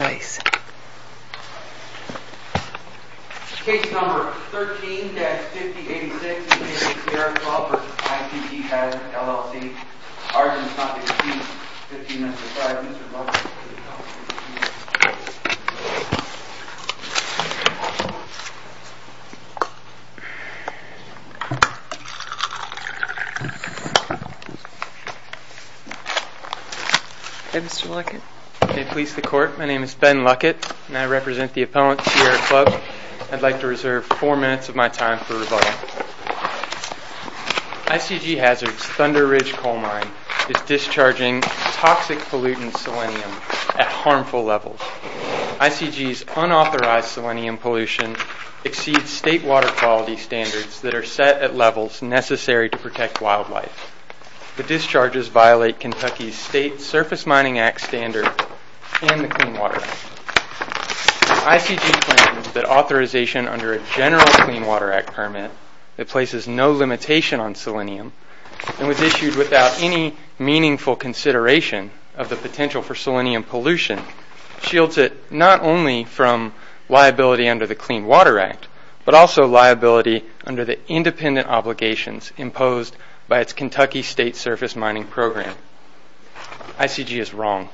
LLC. Argument not to be received. 15-5. Mr. Luckett, please come to the podium. Okay, Mr. Luckett. Okay, police to the court. My name is Ben Luckett, and I represent the opponent, Sierra Club. I'd like to reserve four minutes of my time for rebuttal. ICG Hazard's Thunder Ridge coal mine is discharging toxic pollutant selenium at harmful levels. ICG's unauthorized selenium pollution exceeds state water quality standards that are set at levels necessary to protect wildlife. The discharges violate Kentucky's State Surface Mining Act standard and the Clean Water Act. ICG claims that authorization under a general Clean Water Act permit that places no limitation on selenium, and was issued without any meaningful consideration of the potential for selenium pollution, shields it not only from liability under the Clean Water Act, but also liability under the independent obligations imposed by its Kentucky State Surface Mining Program. ICG is wrong.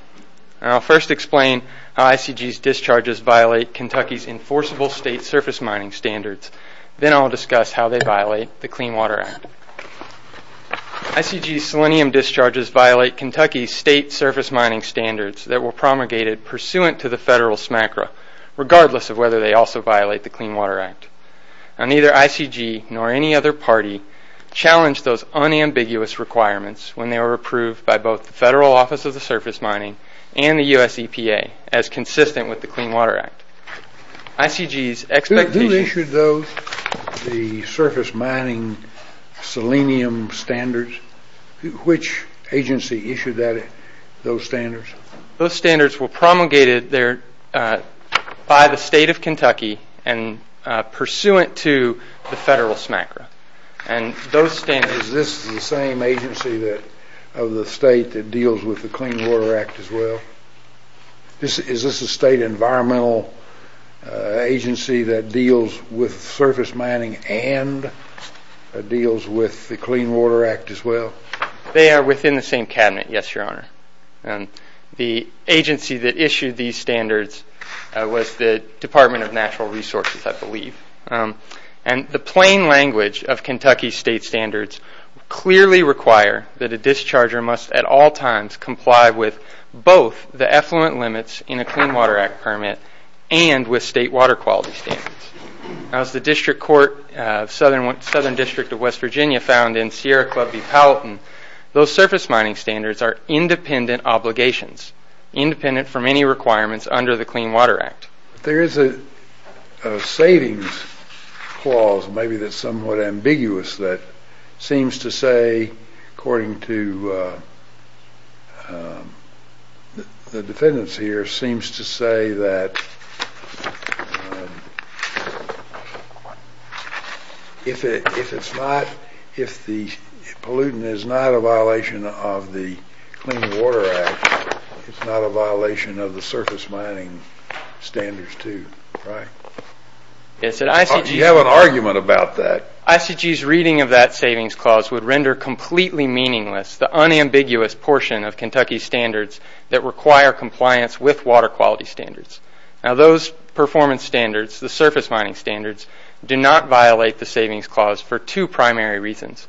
I'll first explain how ICG's discharges violate Kentucky's enforceable State Surface Mining Standards, then I'll discuss how they violate the Clean Water Act. ICG's selenium discharges violate Kentucky's State Surface Mining Standards that were promulgated pursuant to the federal SMCRA, regardless of whether they also violate the Clean Water Act. Now, neither ICG nor any other party challenged those unambiguous requirements when they were approved by both the Federal Office of the Surface Mining and the U.S. EPA as consistent with the Clean Water Act. ICG's expectation... Who issued those, the surface mining selenium standards? Which agency issued those standards? Those standards were promulgated by the state of Kentucky and pursuant to the federal SMCRA. And those standards... Is this the same agency of the state that deals with the Clean Water Act as well? Is this a state environmental agency that deals with surface mining and deals with the Clean Water Act as well? They are within the same cabinet, yes, Your Honor. The agency that issued these standards was the Department of Natural Resources, I believe. And the plain language of Kentucky's state standards clearly require that a discharger must at all times comply with both the effluent limits in a Clean Water Act permit and with state water quality standards. As the Southern District of West Virginia found in Sierra Club v. Palatin, those surface mining standards are independent obligations, independent from any requirements under the Clean Water Act. There is a savings clause, maybe that's somewhat ambiguous, that seems to say, according to the defendants here, seems to say that if the pollutant is not a violation of the Clean Water Act, it's not a violation of the surface mining standards too, right? You have an argument about that. ICG's reading of that savings clause would render completely meaningless the unambiguous portion of Kentucky's standards that require compliance with water quality standards. Now those performance standards, the surface mining standards, do not violate the savings clause for two primary reasons.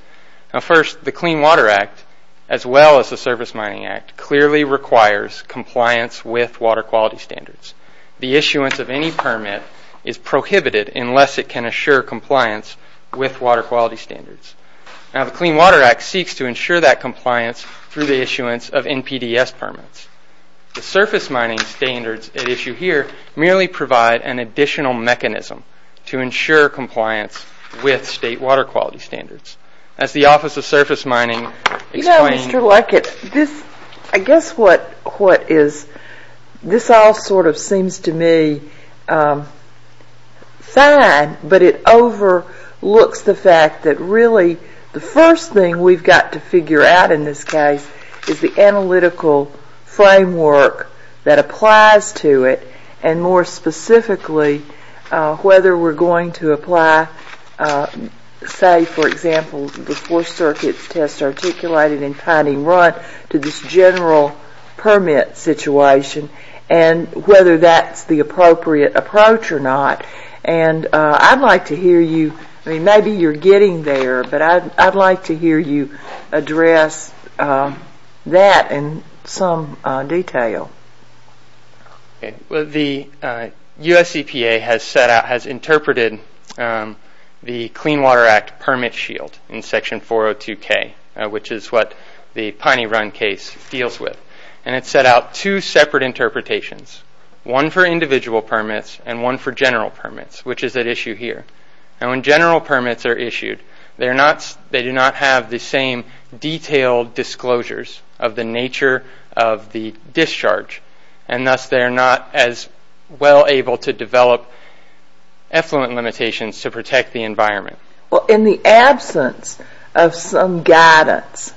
First, the Clean Water Act, as well as the Surface Mining Act, clearly requires compliance with water quality standards. The issuance of any permit is prohibited unless it can assure compliance with water quality standards. Now the Clean Water Act seeks to ensure that compliance through the issuance of NPDES permits. The surface mining standards at issue here merely provide an additional mechanism to ensure compliance with state water quality standards. As the Office of Surface Mining explained... The first thing we've got to figure out in this case is the analytical framework that applies to it, and more specifically whether we're going to apply, say for example, the four circuit test articulated in Pining Run to this general permit situation, and whether that's the appropriate approach or not. And I'd like to hear you, maybe you're getting there, but I'd like to hear you address that in some detail. The US EPA has interpreted the Clean Water Act permit shield in Section 402K, which is what the Pining Run case deals with. And it set out two separate interpretations, one for individual permits and one for general permits, which is at issue here. Now when general permits are issued, they do not have the same detailed disclosures of the nature of the discharge, and thus they're not as well able to develop effluent limitations to protect the environment. In the absence of some guidance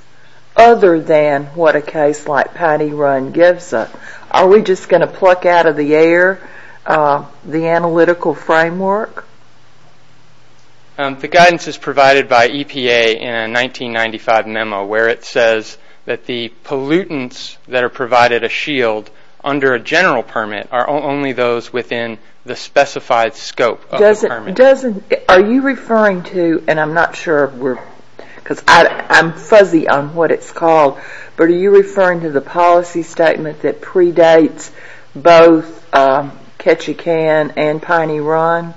other than what a case like Pining Run gives us, are we just going to pluck out of the air the analytical framework? The guidance is provided by EPA in a 1995 memo, where it says that the pollutants that are provided a shield under a general permit are only those within the specified scope of the permit. Are you referring to, and I'm not sure, because I'm fuzzy on what it's called, but are you referring to the policy statement that predates both Ketchikan and Pining Run?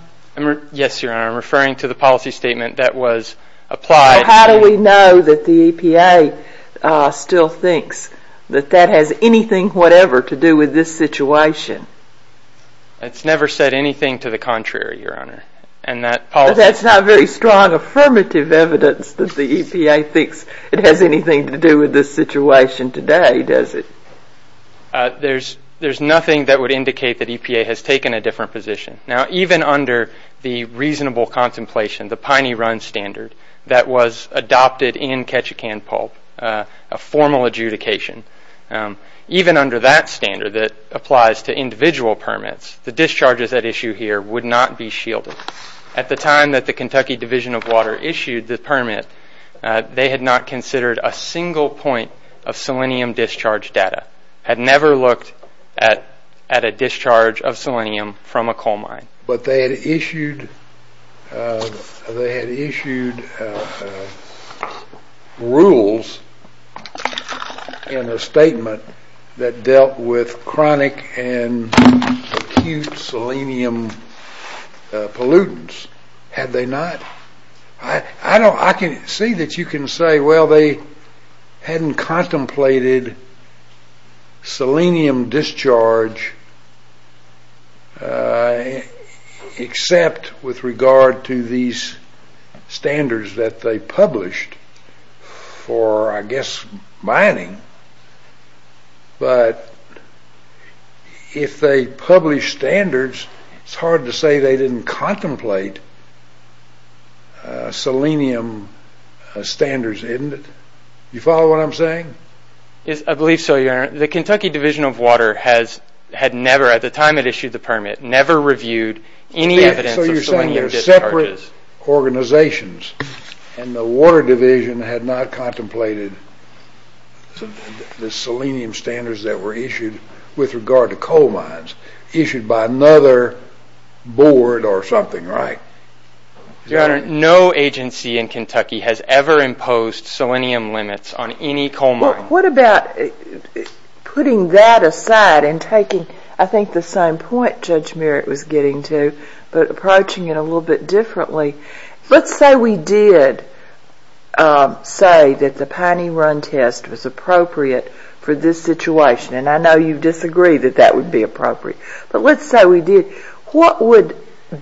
Yes, Your Honor, I'm referring to the policy statement that was applied. How do we know that the EPA still thinks that that has anything whatever to do with this situation? It's never said anything to the contrary, Your Honor. But that's not very strong affirmative evidence that the EPA thinks it has anything to do with this situation today, does it? There's nothing that would indicate that EPA has taken a different position. Now, even under the reasonable contemplation, the Pining Run standard, that was adopted in Ketchikan Pulp, a formal adjudication, even under that standard that applies to individual permits, the discharges at issue here would not be shielded. At the time that the Kentucky Division of Water issued the permit, they had not considered a single point of selenium discharge data, had never looked at a discharge of selenium from a coal mine. But they had issued rules in a statement that dealt with chronic and acute selenium pollutants. Had they not? I can see that you can say, well, they hadn't contemplated selenium discharge except with regard to these standards that they published for, I guess, mining. But if they published standards, it's hard to say they didn't contemplate selenium standards, isn't it? You follow what I'm saying? Yes, I believe so, Your Honor. The Kentucky Division of Water had never, at the time it issued the permit, never reviewed any evidence of selenium discharges. So you're saying they're separate organizations, and the Water Division had not contemplated the selenium standards that were issued with regard to coal mines issued by another board or something, right? Your Honor, no agency in Kentucky has ever imposed selenium limits on any coal mine. Well, what about putting that aside and taking, I think, the same point Judge Merritt was getting to, but approaching it a little bit differently. Let's say we did say that the Piney Run test was appropriate for this situation, and I know you disagree that that would be appropriate. But let's say we did. What would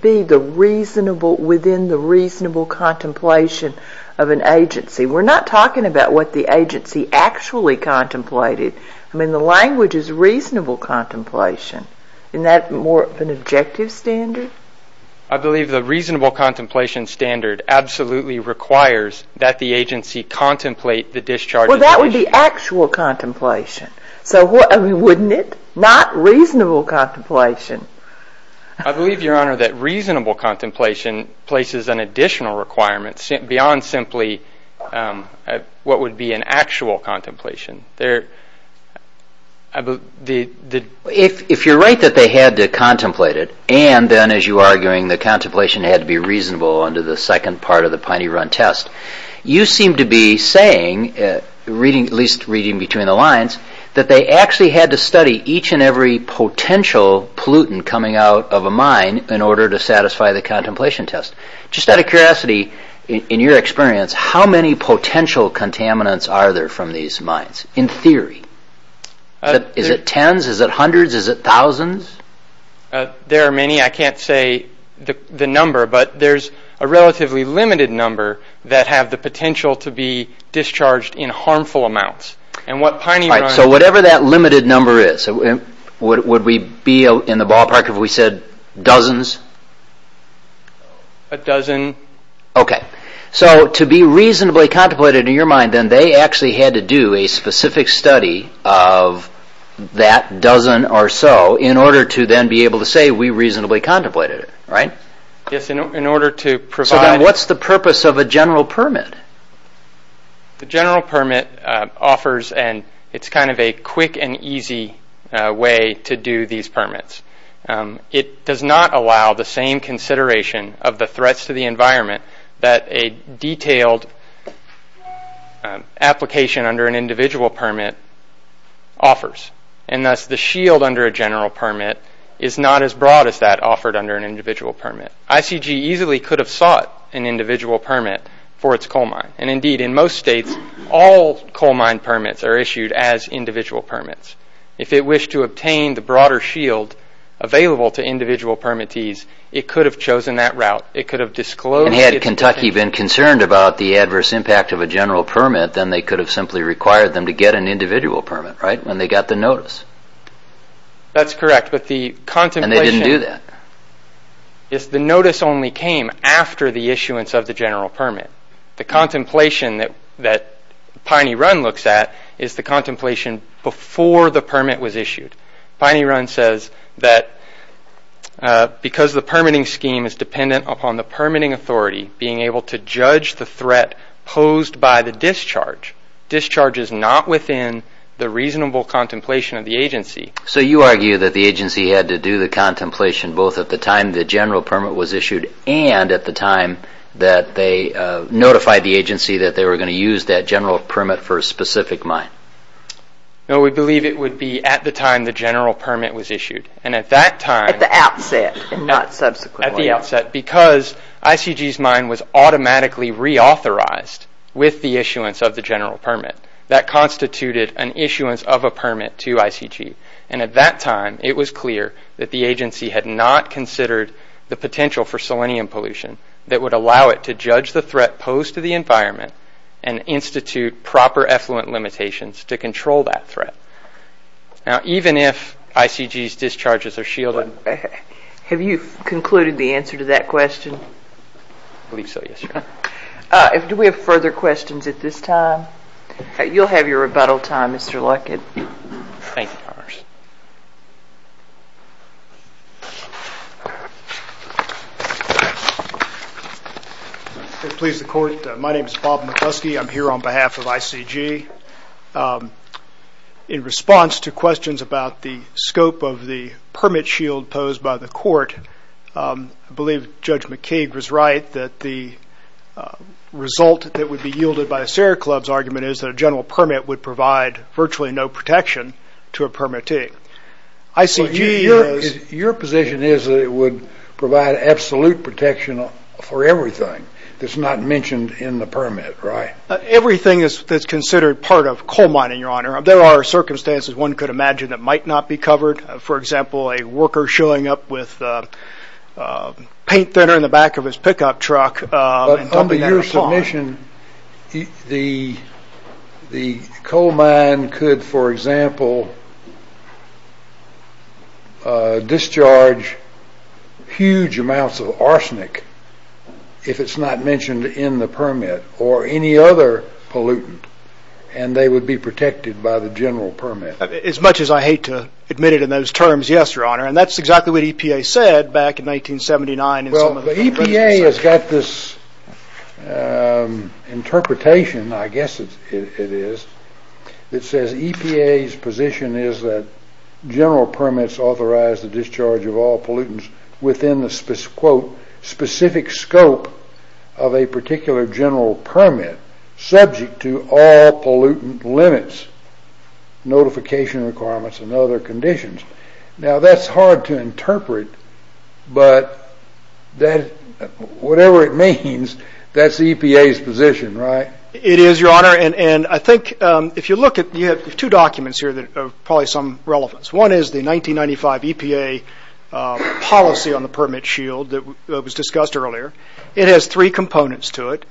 be within the reasonable contemplation of an agency? We're not talking about what the agency actually contemplated. I mean, the language is reasonable contemplation. Isn't that more of an objective standard? I believe the reasonable contemplation standard absolutely requires that the agency contemplate the discharges issued. Well, that would be actual contemplation, wouldn't it? Not reasonable contemplation. I believe, Your Honor, that reasonable contemplation places an additional requirement beyond simply what would be an actual contemplation. If you're right that they had to contemplate it, and then, as you're arguing, the contemplation had to be reasonable under the second part of the Piney Run test, you seem to be saying, at least reading between the lines, that they actually had to study each and every potential pollutant coming out of a mine in order to satisfy the contemplation test. Just out of curiosity, in your experience, how many potential contaminants are there from these mines, in theory? Is it tens? Is it hundreds? Is it thousands? There are many. I can't say the number, but there's a relatively limited number that have the potential to be discharged in harmful amounts. Whatever that limited number is, would we be in the ballpark if we said dozens? A dozen. To be reasonably contemplated in your mind, then they actually had to do a specific study of that dozen or so in order to then be able to say we reasonably contemplated it, right? Yes, in order to provide... What's the purpose of a general permit? The general permit offers... It does not allow the same consideration of the threats to the environment that a detailed application under an individual permit offers. And thus, the shield under a general permit is not as broad as that offered under an individual permit. ICG easily could have sought an individual permit for its coal mine. And indeed, in most states, all coal mine permits are issued as individual permits. If it wished to obtain the broader shield available to individual permittees, it could have chosen that route. It could have disclosed... And had Kentucky been concerned about the adverse impact of a general permit, then they could have simply required them to get an individual permit, right? When they got the notice. That's correct, but the contemplation... And they didn't do that. The notice only came after the issuance of the general permit. The contemplation that Piney Run looks at is the contemplation before the permit was issued. Piney Run says that because the permitting scheme is dependent upon the permitting authority being able to judge the threat posed by the discharge, discharge is not within the reasonable contemplation of the agency. So you argue that the agency had to do the contemplation both at the time the general permit was issued and at the time that they notified the agency that they were going to use that general permit for a specific mine? No, we believe it would be at the time the general permit was issued. And at that time... At the outset and not subsequently. At the outset, because ICG's mine was automatically reauthorized with the issuance of the general permit. That constituted an issuance of a permit to ICG. And at that time, it was clear that the agency had not considered the potential for selenium pollution that would allow it to judge the threat posed to the environment and institute proper effluent limitations to control that threat. Now, even if ICG's discharges are shielded... Have you concluded the answer to that question? I believe so, yes. Do we have further questions at this time? You'll have your rebuttal time, Mr. Luckett. Thank you, Congress. If it pleases the Court, my name is Bob McCluskey. I'm here on behalf of ICG. In response to questions about the scope of the permit shield posed by the Court, I believe Judge McKeague was right that the result that would be yielded by the Sierra Club's argument is that a general permit would provide virtually no protection to a permitting. Your position is that it would provide absolute protection for everything that's not mentioned in the permit, right? Everything that's considered part of coal mining, Your Honor. There are circumstances one could imagine that might not be covered. For example, a worker showing up with paint thinner in the back of his pickup truck... According to your submission, the coal mine could, for example, discharge huge amounts of arsenic if it's not mentioned in the permit or any other pollutant, and they would be protected by the general permit. As much as I hate to admit it in those terms, yes, Your Honor. And that's exactly what EPA said back in 1979. Well, the EPA has got this interpretation, I guess it is, that says EPA's position is that general permits authorize the discharge of all pollutants within the quote, specific scope of a particular general permit subject to all pollutant limits, notification requirements, and other conditions. Now, that's hard to interpret, but whatever it means, that's EPA's position, right? It is, Your Honor, and I think if you look at... You have two documents here that are probably of some relevance. One is the 1995 EPA policy on the permit shield that was discussed earlier. It has three components to it,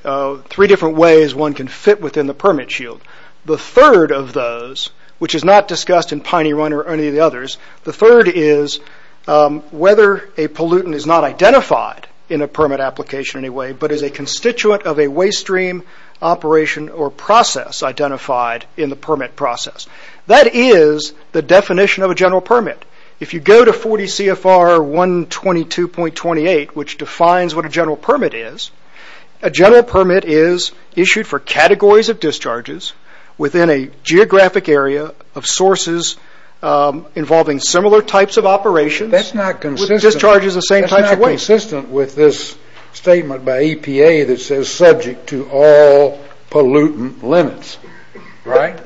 three different ways one can fit within the permit shield. The third of those, which is not discussed in Piney Run or any of the others, the third is whether a pollutant is not identified in a permit application in any way, but is a constituent of a waste stream operation or process identified in the permit process. That is the definition of a general permit. If you go to 40 CFR 122.28, which defines what a general permit is, a general permit is issued for categories of discharges within a geographic area of sources involving similar types of operations with discharges the same types of waste. That's not consistent with this statement by EPA that says subject to all pollutant limits, right?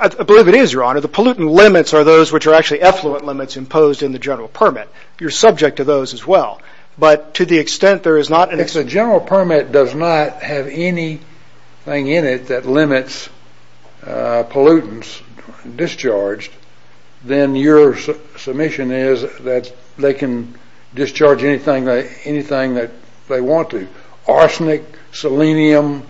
I believe it is, Your Honor. The pollutant limits are those which are actually effluent limits imposed in the general permit. You're subject to those as well, but to the extent there is not... If the general permit does not have anything in it that limits pollutants discharged, then your submission is that they can discharge anything that they want to, arsenic, selenium,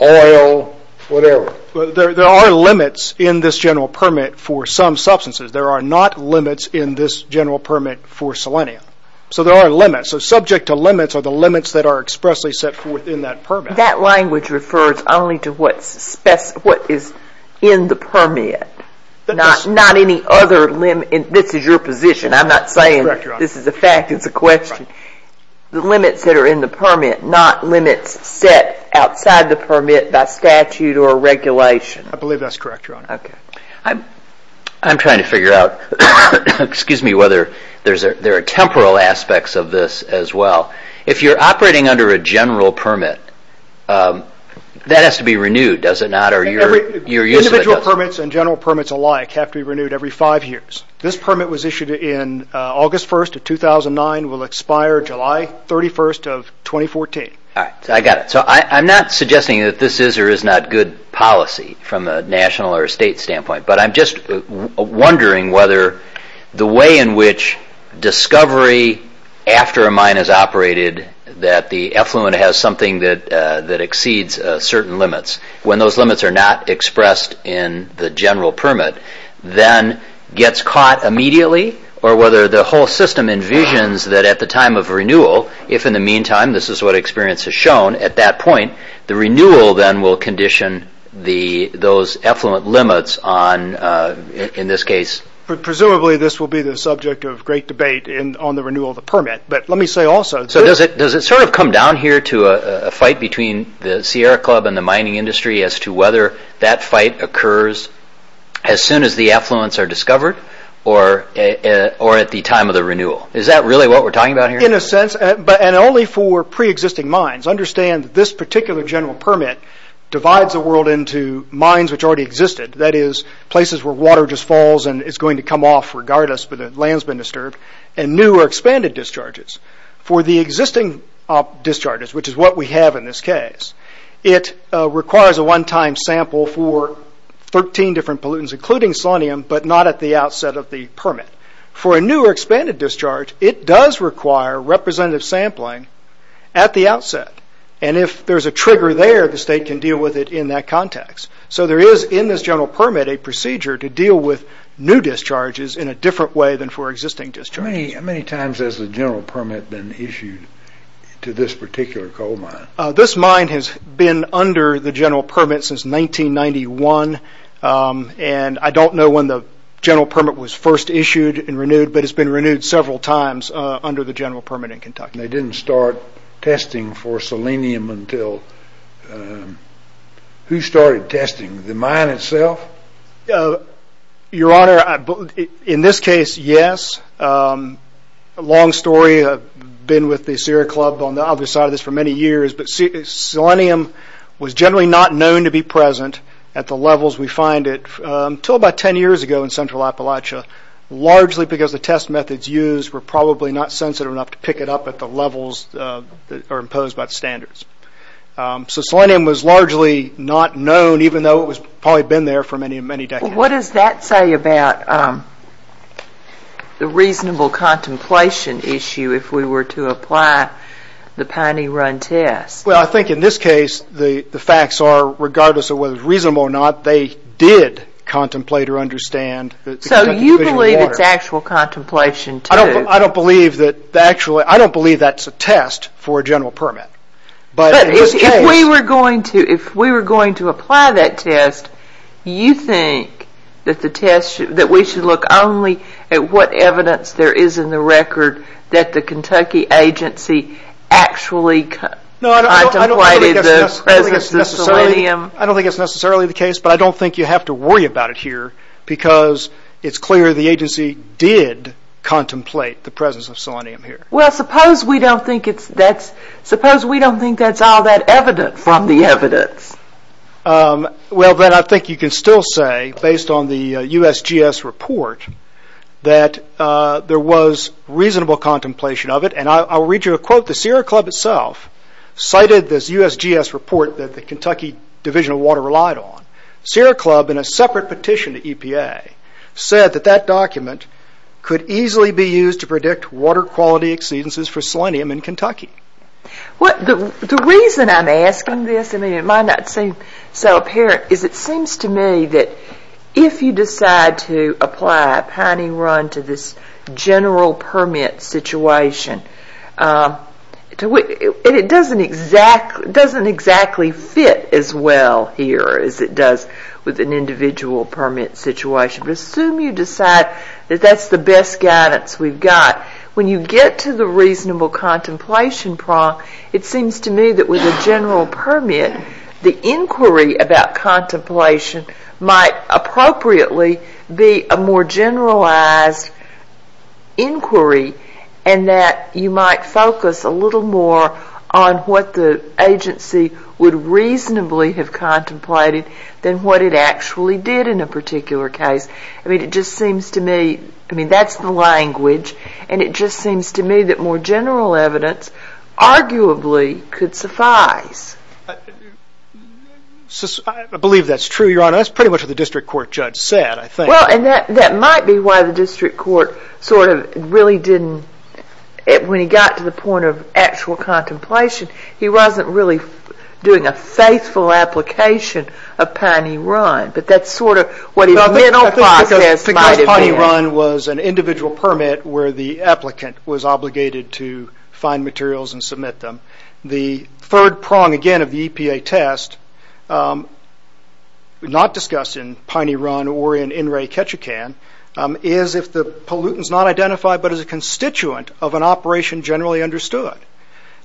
oil, whatever. There are limits in this general permit for some substances. There are not limits in this general permit for selenium. There are limits. Subject to limits are the limits that are expressly set within that permit. That language refers only to what is in the permit, not any other limit. This is your position. I'm not saying this is a fact. It's a question. The limits that are in the permit, not limits set outside the permit by statute or regulation. I believe that's correct, Your Honor. I'm trying to figure out whether there are temporal aspects of this as well. If you're operating under a general permit, that has to be renewed, does it not? Individual permits and general permits alike have to be renewed every five years. This permit was issued in August 1st of 2009, will expire July 31st of 2014. I got it. I'm not suggesting that this is or is not good policy from a national or state standpoint, but I'm just wondering whether the way in which discovery after a mine has operated that the effluent has something that exceeds certain limits, when those limits are not expressed in the general permit, then gets caught immediately or whether the whole system envisions that at the time of renewal, if in the meantime this is what experience has shown at that point, the renewal then will condition those effluent limits in this case. Presumably this will be the subject of great debate on the renewal of the permit, but let me say also... Does it come down here to a fight between the Sierra Club and the mining industry as to whether that fight occurs as soon as the effluents are discovered or at the time of the renewal? Is that really what we're talking about here? In a sense, and only for pre-existing mines. Understand that this particular general permit divides the world into mines which already existed, that is places where water just falls and it's going to come off regardless, but the land's been disturbed, and new or expanded discharges. For the existing discharges, which is what we have in this case, it requires a one-time sample for 13 different pollutants, including selenium, but not at the outset of the permit. For a new or expanded discharge, it does require representative sampling at the outset, and if there's a trigger there, the state can deal with it in that context. So there is, in this general permit, a procedure to deal with new discharges in a different way than for existing discharges. How many times has the general permit been issued to this particular coal mine? This mine has been under the general permit since 1991, and I don't know when the general permit was first issued and renewed, but it's been renewed several times under the general permit in Kentucky. They didn't start testing for selenium until... Who started testing? The mine itself? Your Honor, in this case, yes. Long story, I've been with the Sierra Club on the other side of this for many years, but selenium was generally not known to be present at the levels we find it until about 10 years ago in central Appalachia, largely because the test methods used were probably not sensitive enough to pick it up at the levels that are imposed by the standards. So selenium was largely not known, even though it was probably been there for many, many decades. What does that say about the reasonable contemplation issue if we were to apply the Piney Run test? Well, I think in this case, the facts are, regardless of whether it's reasonable or not, they did contemplate or understand... So you believe it's actual contemplation, too? I don't believe that's a test for a general permit. But if we were going to apply that test, you think that we should look only at what evidence there is in the record that the Kentucky agency actually contemplated the presence of selenium? I don't think that's necessarily the case, but I don't think you have to worry about it here because it's clear the agency did contemplate the presence of selenium here. Well, suppose we don't think that's all that evident from the evidence. Well, then I think you can still say, based on the USGS report, that there was reasonable contemplation of it. And I'll read you a quote. The Sierra Club itself cited this USGS report that the Kentucky Division of Water relied on. Sierra Club, in a separate petition to EPA, said that that document could easily be used to predict water quality exceedances for selenium in Kentucky. The reason I'm asking this, it might not seem so apparent, is it seems to me that if you decide to apply a pining run to this general permit situation, it doesn't exactly fit as well here as it does with an individual permit situation. But assume you decide that that's the best guidance we've got. When you get to the reasonable contemplation prong, it seems to me that with a general permit, the inquiry about contemplation might appropriately be a more generalized inquiry and that you might focus a little more on what the agency would reasonably have contemplated than what it actually did in a particular case. I mean, it just seems to me, I mean, that's the language, and it just seems to me that more general evidence arguably could suffice. I believe that's true, Your Honor. That's pretty much what the district court judge said, I think. Well, and that might be why the district court sort of really didn't, when he got to the point of actual contemplation, he wasn't really doing a faithful application of pining run, but that's sort of what his mental process might have been. Because pining run was an individual permit where the applicant was obligated to find materials and submit them. The third prong, again, of the EPA test, not discussed in pining run or in in-ray Ketchikan, is if the pollutant's not identified, but is a constituent of an operation generally understood.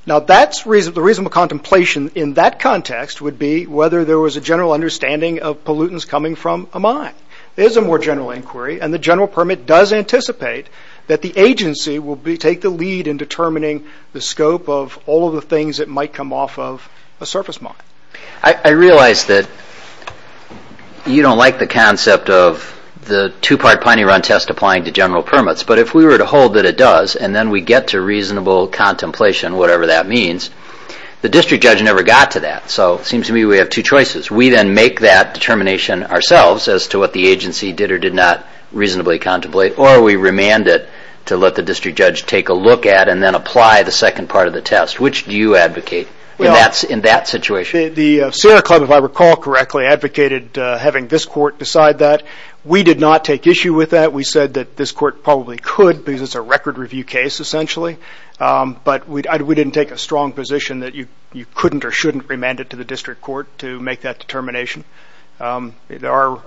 Now, the reasonable contemplation in that context would be whether there was a general understanding of pollutants coming from a mine. There's a more general inquiry, and the general permit does anticipate that the agency will take the lead in determining the scope of all of the things that might come off of a surface mine. I realize that you don't like the concept of the two-part pining run test applying to general permits, but if we were to hold that it does and then we get to reasonable contemplation, whatever that means, the district judge never got to that. So it seems to me we have two choices. We then make that determination ourselves as to what the agency did or did not reasonably contemplate, or we remand it to let the district judge take a look at and then apply the second part of the test. Which do you advocate in that situation? The Sierra Club, if I recall correctly, advocated having this court decide that. We did not take issue with that. We said that this court probably could because it's a record review case essentially, but we didn't take a strong position that you couldn't or shouldn't remand it to the district court to make that determination. There are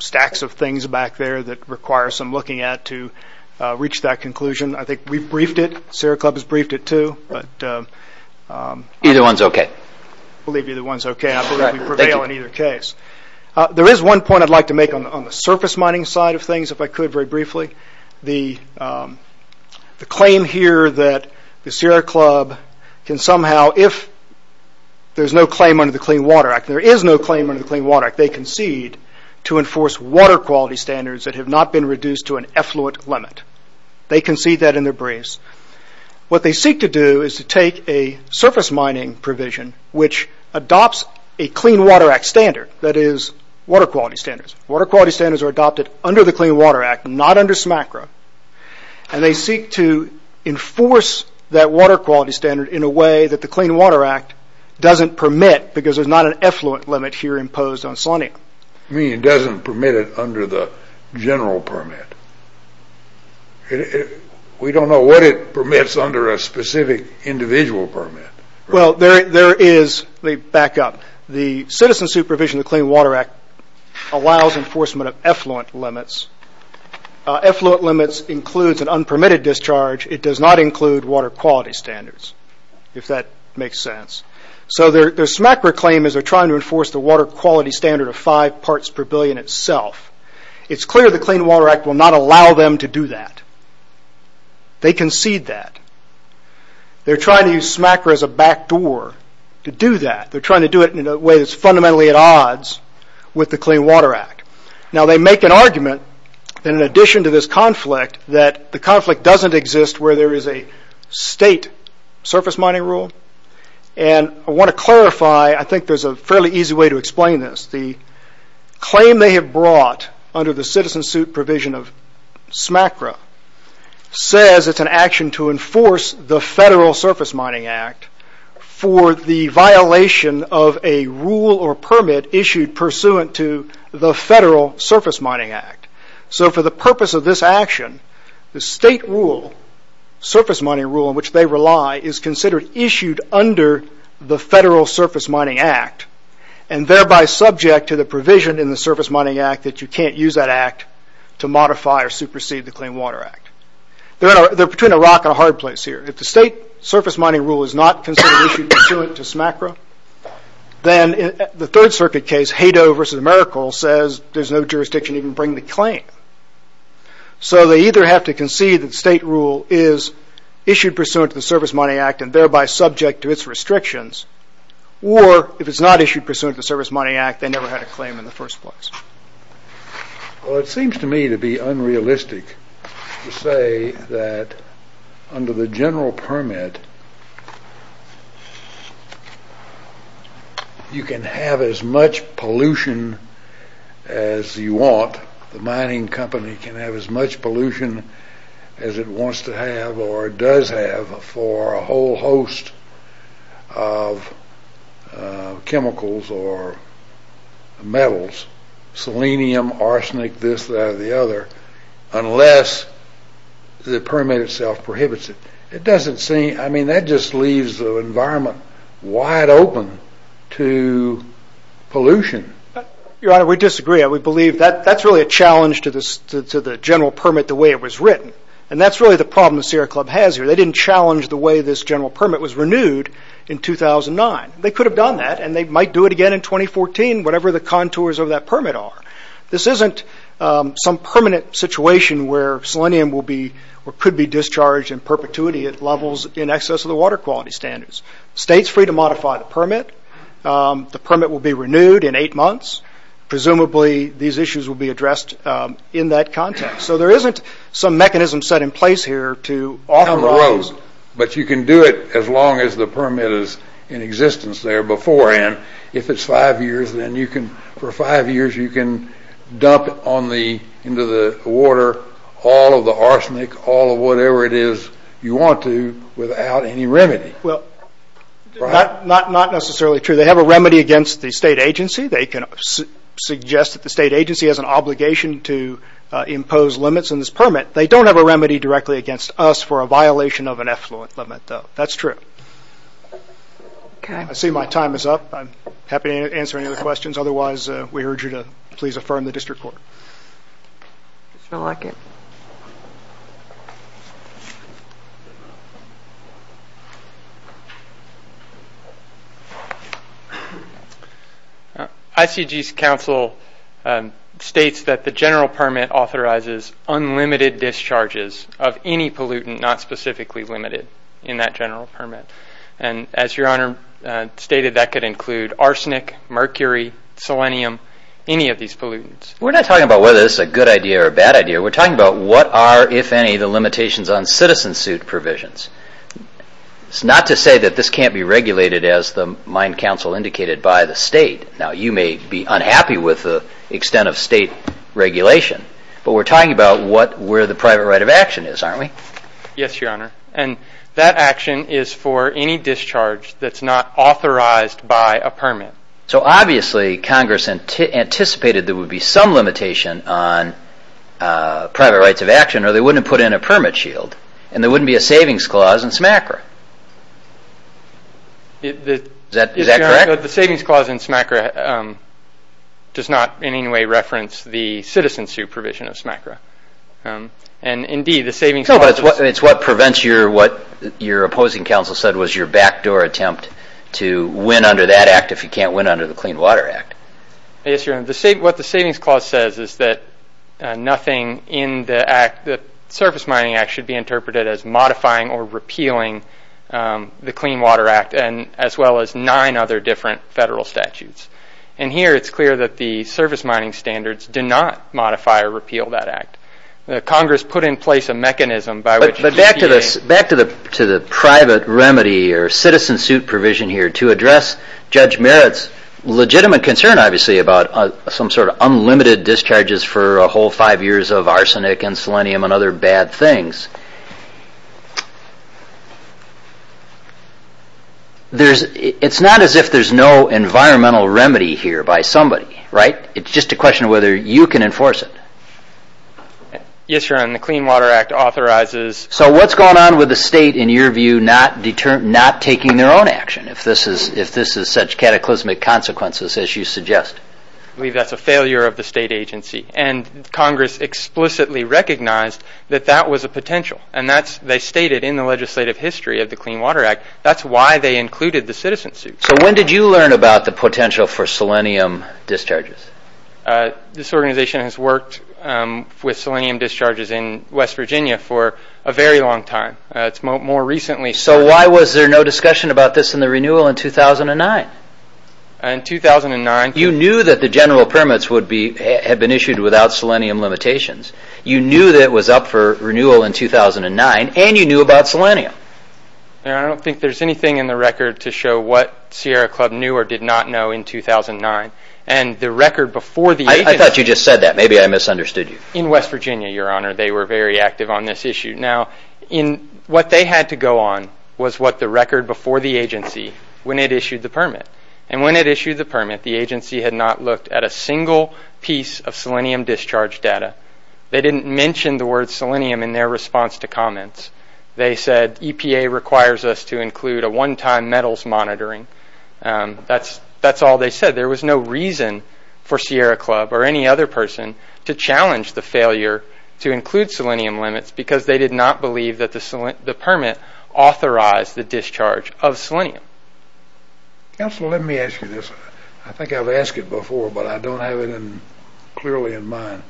stacks of things back there that require some looking at to reach that conclusion. I think we've briefed it. Sierra Club has briefed it too. Either one's okay. I believe either one's okay. I believe we prevail in either case. There is one point I'd like to make on the surface mining side of things if I could very briefly. The claim here that the Sierra Club can somehow, if there's no claim under the Clean Water Act, there is no claim under the Clean Water Act, they concede to enforce water quality standards that have not been reduced to an effluent limit. They concede that in their briefs. What they seek to do is to take a surface mining provision which adopts a Clean Water Act standard, that is water quality standards. Water quality standards are adopted under the Clean Water Act, not under SMACRA, and they seek to enforce that water quality standard in a way that the Clean Water Act doesn't permit because there's not an effluent limit here imposed on salinia. What do you mean it doesn't permit it under the general permit? We don't know what it permits under a specific individual permit. Well, there is, let me back up, the citizen supervision of the Clean Water Act allows enforcement of effluent limits. Effluent limits includes an unpermitted discharge. It does not include water quality standards, if that makes sense. So their SMACRA claim is they're trying to enforce the water quality standard of five parts per billion itself. It's clear the Clean Water Act will not allow them to do that. They concede that. They're trying to use SMACRA as a backdoor to do that. They're trying to do it in a way that's fundamentally at odds with the Clean Water Act. Now they make an argument, in addition to this conflict, that the conflict doesn't exist where there is a state surface mining rule. And I want to clarify, I think there's a fairly easy way to explain this. The claim they have brought under the citizen suit provision of SMACRA says it's an action to enforce the Federal Surface Mining Act for the violation of a rule or permit issued pursuant to the Federal Surface Mining Act. So for the purpose of this action, the state rule, surface mining rule, on which they rely, is considered issued under the Federal Surface Mining Act and thereby subject to the provision in the Surface Mining Act that you can't use that act to modify or supersede the Clean Water Act. They're between a rock and a hard place here. If the state surface mining rule is not considered issued pursuant to SMACRA, then in the Third Circuit case, Haydoe v. Merkle says there's no jurisdiction to even bring the claim. So they either have to concede that state rule is issued pursuant to the Surface Mining Act and thereby subject to its restrictions, or if it's not issued pursuant to the Surface Mining Act, they never had a claim in the first place. Well, it seems to me to be unrealistic to say that under the general permit, you can have as much pollution as you want. The mining company can have as much pollution as it wants to have or does have for a whole host of chemicals or metals, selenium, arsenic, this, that, or the other, unless the permit itself prohibits it. It doesn't seem... I mean, that just leaves the environment wide open to pollution. Your Honor, we disagree. That's really a challenge to the general permit, the way it was written, and that's really the problem the Sierra Club has here. They didn't challenge the way this general permit was renewed in 2009. They could have done that, and they might do it again in 2014, whatever the contours of that permit are. This isn't some permanent situation where selenium could be discharged in perpetuity at levels in excess of the water quality standards. State's free to modify the permit. The permit will be renewed in eight months, presumably these issues will be addressed in that context. So there isn't some mechanism set in place here to authorize... But you can do it as long as the permit is in existence there beforehand. If it's five years, then you can... For five years, you can dump into the water all of the arsenic, all of whatever it is you want to, without any remedy. Well, not necessarily true. They have a remedy against the state agency. They can suggest that the state agency has an obligation to impose limits on this permit. They don't have a remedy directly against us for a violation of an effluent limit, though. That's true. I see my time is up. I'm happy to answer any other questions. Otherwise, we urge you to please affirm the district court. Mr. Lockett. ICG's counsel states that the general permit authorizes unlimited discharges of any pollutant, not specifically limited, in that general permit. And as Your Honor stated, that could include arsenic, mercury, selenium, any of these pollutants. We're not talking about whether this is a good idea or a bad idea. We're talking about what are, if any, the limitations on citizen suit provisions. It's not to say that this can't be regulated, as the mine counsel indicated, by the state. Now, you may be unhappy with the extent of state regulation, but we're talking about where the private right of action is, aren't we? Yes, Your Honor. And that action is for any discharge that's not authorized by a permit. So, obviously, Congress anticipated there would be some limitation on private rights of action, or they wouldn't have put in a permit shield, and there wouldn't be a savings clause in SMACRA. Is that correct? The savings clause in SMACRA does not in any way reference the citizen suit provision of SMACRA. And, indeed, the savings clause... No, but it's what prevents your... What your opposing counsel said was your backdoor attempt to win under that act if you can't win under the Clean Water Act. Yes, Your Honor. What the savings clause says is that nothing in the act... The Surface Mining Act should be interpreted as modifying or repealing the Clean Water Act, as well as nine other different federal statutes. And here it's clear that the surface mining standards do not modify or repeal that act. Congress put in place a mechanism by which... Back to the private remedy or citizen suit provision here to address Judge Merritt's legitimate concern, obviously, about some sort of unlimited discharges for a whole five years of arsenic and selenium and other bad things. It's not as if there's no environmental remedy here by somebody, right? It's just a question of whether you can enforce it. Yes, Your Honor, and the Clean Water Act authorizes... So what's going on with the state, in your view, not taking their own action if this is such cataclysmic consequences as you suggest? I believe that's a failure of the state agency. And Congress explicitly recognized that that was a potential. And they stated in the legislative history of the Clean Water Act that's why they included the citizen suit. So when did you learn about the potential for selenium discharges? This organization has worked with selenium discharges in West Virginia for a very long time. It's more recently... So why was there no discussion about this in the renewal in 2009? In 2009... You knew that the general permits had been issued without selenium limitations. You knew that it was up for renewal in 2009, and you knew about selenium. Your Honor, I don't think there's anything in the record to show what Sierra Club knew or did not know in 2009. And the record before the agency... I thought you just said that. Maybe I misunderstood you. In West Virginia, Your Honor, they were very active on this issue. Now, what they had to go on was what the record before the agency when it issued the permit. And when it issued the permit, the agency had not looked at a single piece of selenium discharge data. They didn't mention the word selenium in their response to comments. They said EPA requires us to include a one-time metals monitoring. That's all they said. There was no reason for Sierra Club or any other person to challenge the failure to include selenium limits because they did not believe that the permit authorized the discharge of selenium. Counselor, let me ask you this. I think I've asked it before, but I don't have it clearly in mind.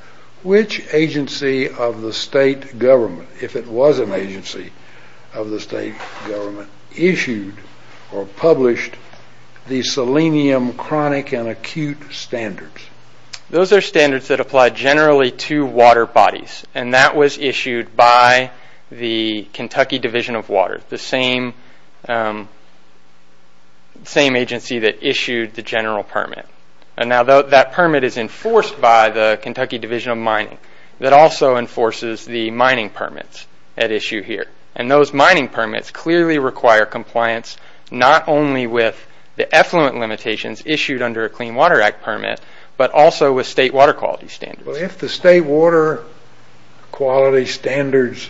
Which agency of the state government, if it was an agency of the state government, issued or published the selenium chronic and acute standards? Those are standards that apply generally to water bodies. And that was issued by the Kentucky Division of Water, the same agency that issued the general permit. And now that permit is enforced by the Kentucky Division of Mining that also enforces the mining permits at issue here. And those mining permits clearly require compliance not only with the effluent limitations issued under a Clean Water Act permit, but also with state water quality standards. Well, if the State Water Quality Standards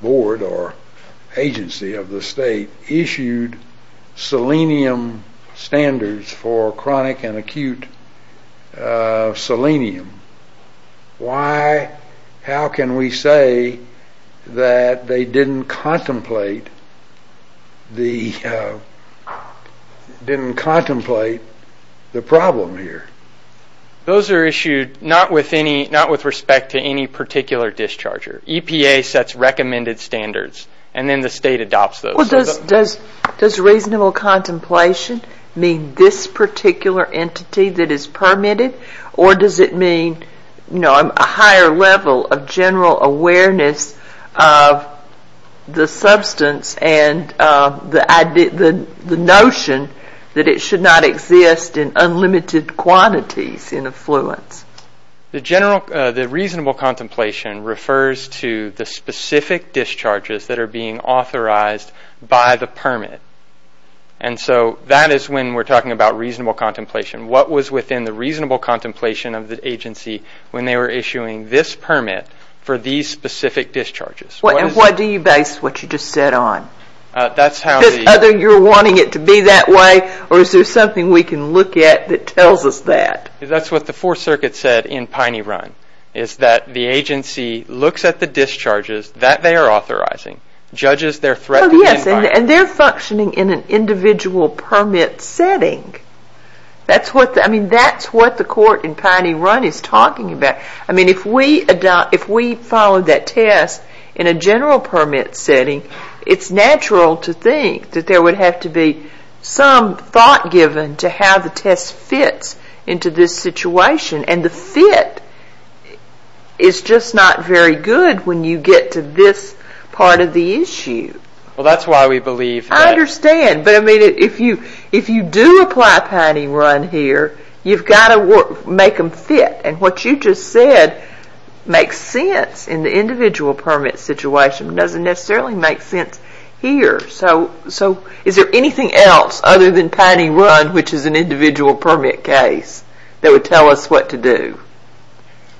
Board or agency of the state issued selenium standards for chronic and acute selenium, how can we say that they didn't contemplate the problem here? Those are issued not with respect to any particular discharger. EPA sets recommended standards and then the state adopts those. Does reasonable contemplation mean this particular entity that is permitted or does it mean a higher level of general awareness of the substance and the notion that it should not exist in unlimited quantities in effluents? The reasonable contemplation refers to the specific discharges that are being authorized by the permit. And so that is when we're talking about reasonable contemplation. What was within the reasonable contemplation of the agency when they were issuing this permit for these specific discharges? And what do you base what you just said on? Because either you're wanting it to be that way or is there something we can look at that tells us that? That's what the Fourth Circuit said in Piney Run, is that the agency looks at the discharges that they are authorizing, judges their threat to the environment. And they're functioning in an individual permit setting. That's what the court in Piney Run is talking about. If we follow that test in a general permit setting, it's natural to think that there would have to be some thought given to how the test fits into this situation. And the fit is just not very good when you get to this part of the issue. Well, that's why we believe that... I understand. But if you do apply Piney Run here, you've got to make them fit. And what you just said makes sense in the individual permit situation but doesn't necessarily make sense here. So is there anything else other than Piney Run, which is an individual permit case, that would tell us what to do?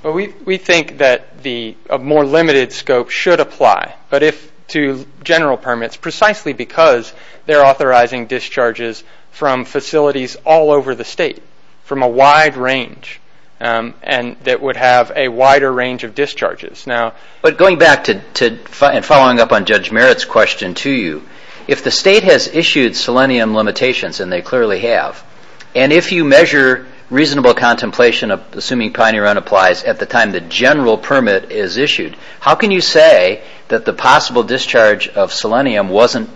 We think that a more limited scope should apply. But if to general permits, precisely because they're authorizing discharges from facilities all over the state, from a wide range, and that would have a wider range of discharges. But going back and following up on Judge Merritt's question to you, if the state has issued selenium limitations, and they clearly have, and if you measure reasonable contemplation, how can you say that the possible discharge of selenium wasn't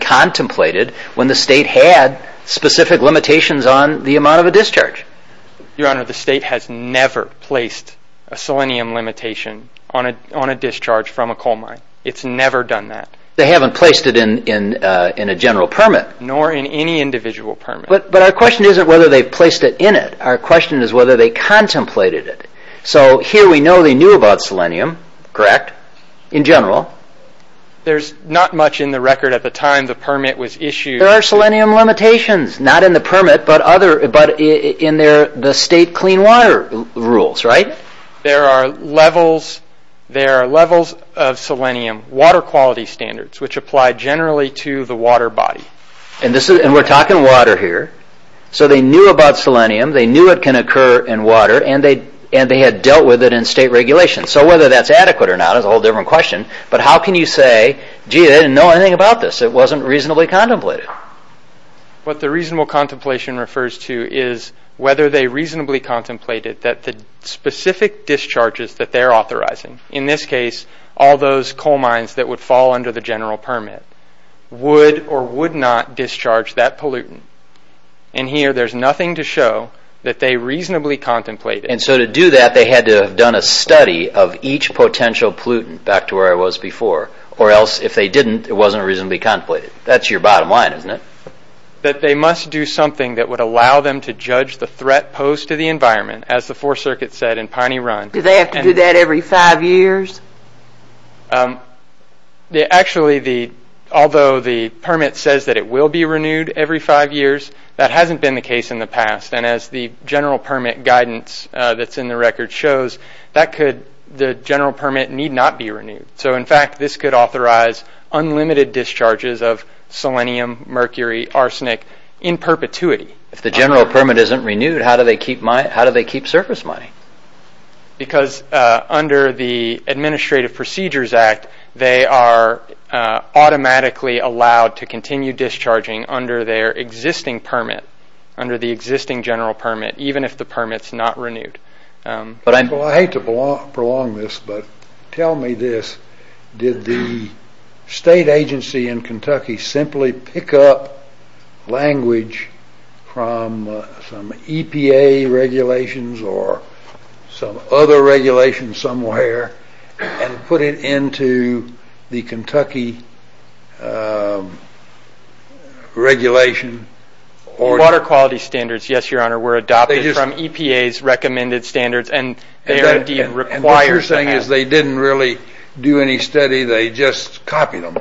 contemplated when the state had specific limitations on the amount of a discharge? Your Honor, the state has never placed a selenium limitation on a discharge from a coal mine. It's never done that. They haven't placed it in a general permit. Nor in any individual permit. But our question isn't whether they've placed it in it. Our question is whether they contemplated it. So here we know they knew about selenium, correct, in general. There's not much in the record at the time the permit was issued. There are selenium limitations, not in the permit, but in the state clean water rules, right? There are levels of selenium, water quality standards, which apply generally to the water body. And we're talking water here. So they knew about selenium. They knew it can occur in water. And they had dealt with it in state regulation. So whether that's adequate or not is a whole different question. But how can you say, gee, they didn't know anything about this. It wasn't reasonably contemplated. What the reasonable contemplation refers to is whether they reasonably contemplated that the specific discharges that they're authorizing, in this case, all those coal mines that would fall under the general permit, would or would not discharge that pollutant. And here, there's nothing to show that they reasonably contemplated. And so to do that, they had to have done a study of each potential pollutant back to where it was before. Or else, if they didn't, it wasn't reasonably contemplated. That's your bottom line, isn't it? That they must do something that would allow them to judge the threat posed to the environment, as the Fourth Circuit said in Piney Run. Do they have to do that every five years? Actually, although the permit says that it will be renewed every five years, that hasn't been the case in the past. And as the general permit guidance that's in the record shows, the general permit need not be renewed. So in fact, this could authorize unlimited discharges of selenium, mercury, arsenic in perpetuity. If the general permit isn't renewed, how do they keep surface mining? Because under the Administrative Procedures Act, they are automatically allowed to continue discharging under their existing permit, under the existing general permit, even if the permit's not renewed. Well, I hate to prolong this, but tell me this. Did the state agency in Kentucky simply pick up language from some EPA regulations or some other regulation somewhere and put it into the Kentucky regulation? Water quality standards, yes, Your Honor, were adopted from EPA's recommended standards, and they are indeed required to have them. And what you're saying is they didn't really do any study, they just copied them.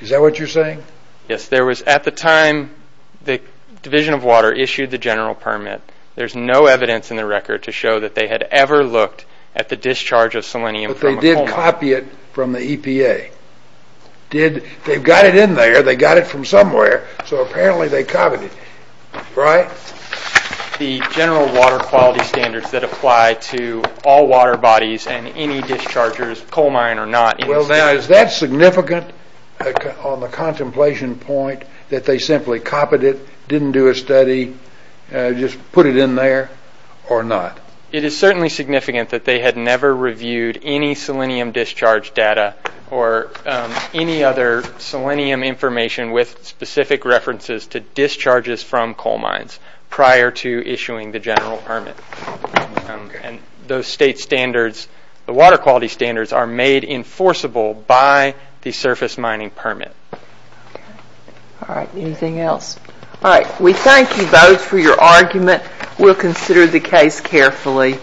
Is that what you're saying? Yes. At the time the Division of Water issued the general permit, there's no evidence in the record to show that they had ever looked at the discharge of selenium from a coal mine. But they did copy it from the EPA. They've got it in there, they got it from somewhere, so apparently they copied it, right? The general water quality standards that apply to all water bodies and any dischargers, coal mine or not. Well, now, is that significant on the contemplation point that they simply copied it, didn't do a study, just put it in there or not? It is certainly significant that they had never reviewed any selenium discharge data or any other selenium information with specific references to discharges from coal mines prior to issuing the general permit. And those state standards, the water quality standards, are made enforceable by the surface mining permit. All right. Anything else? All right. We thank you both for your argument. We'll consider the case carefully.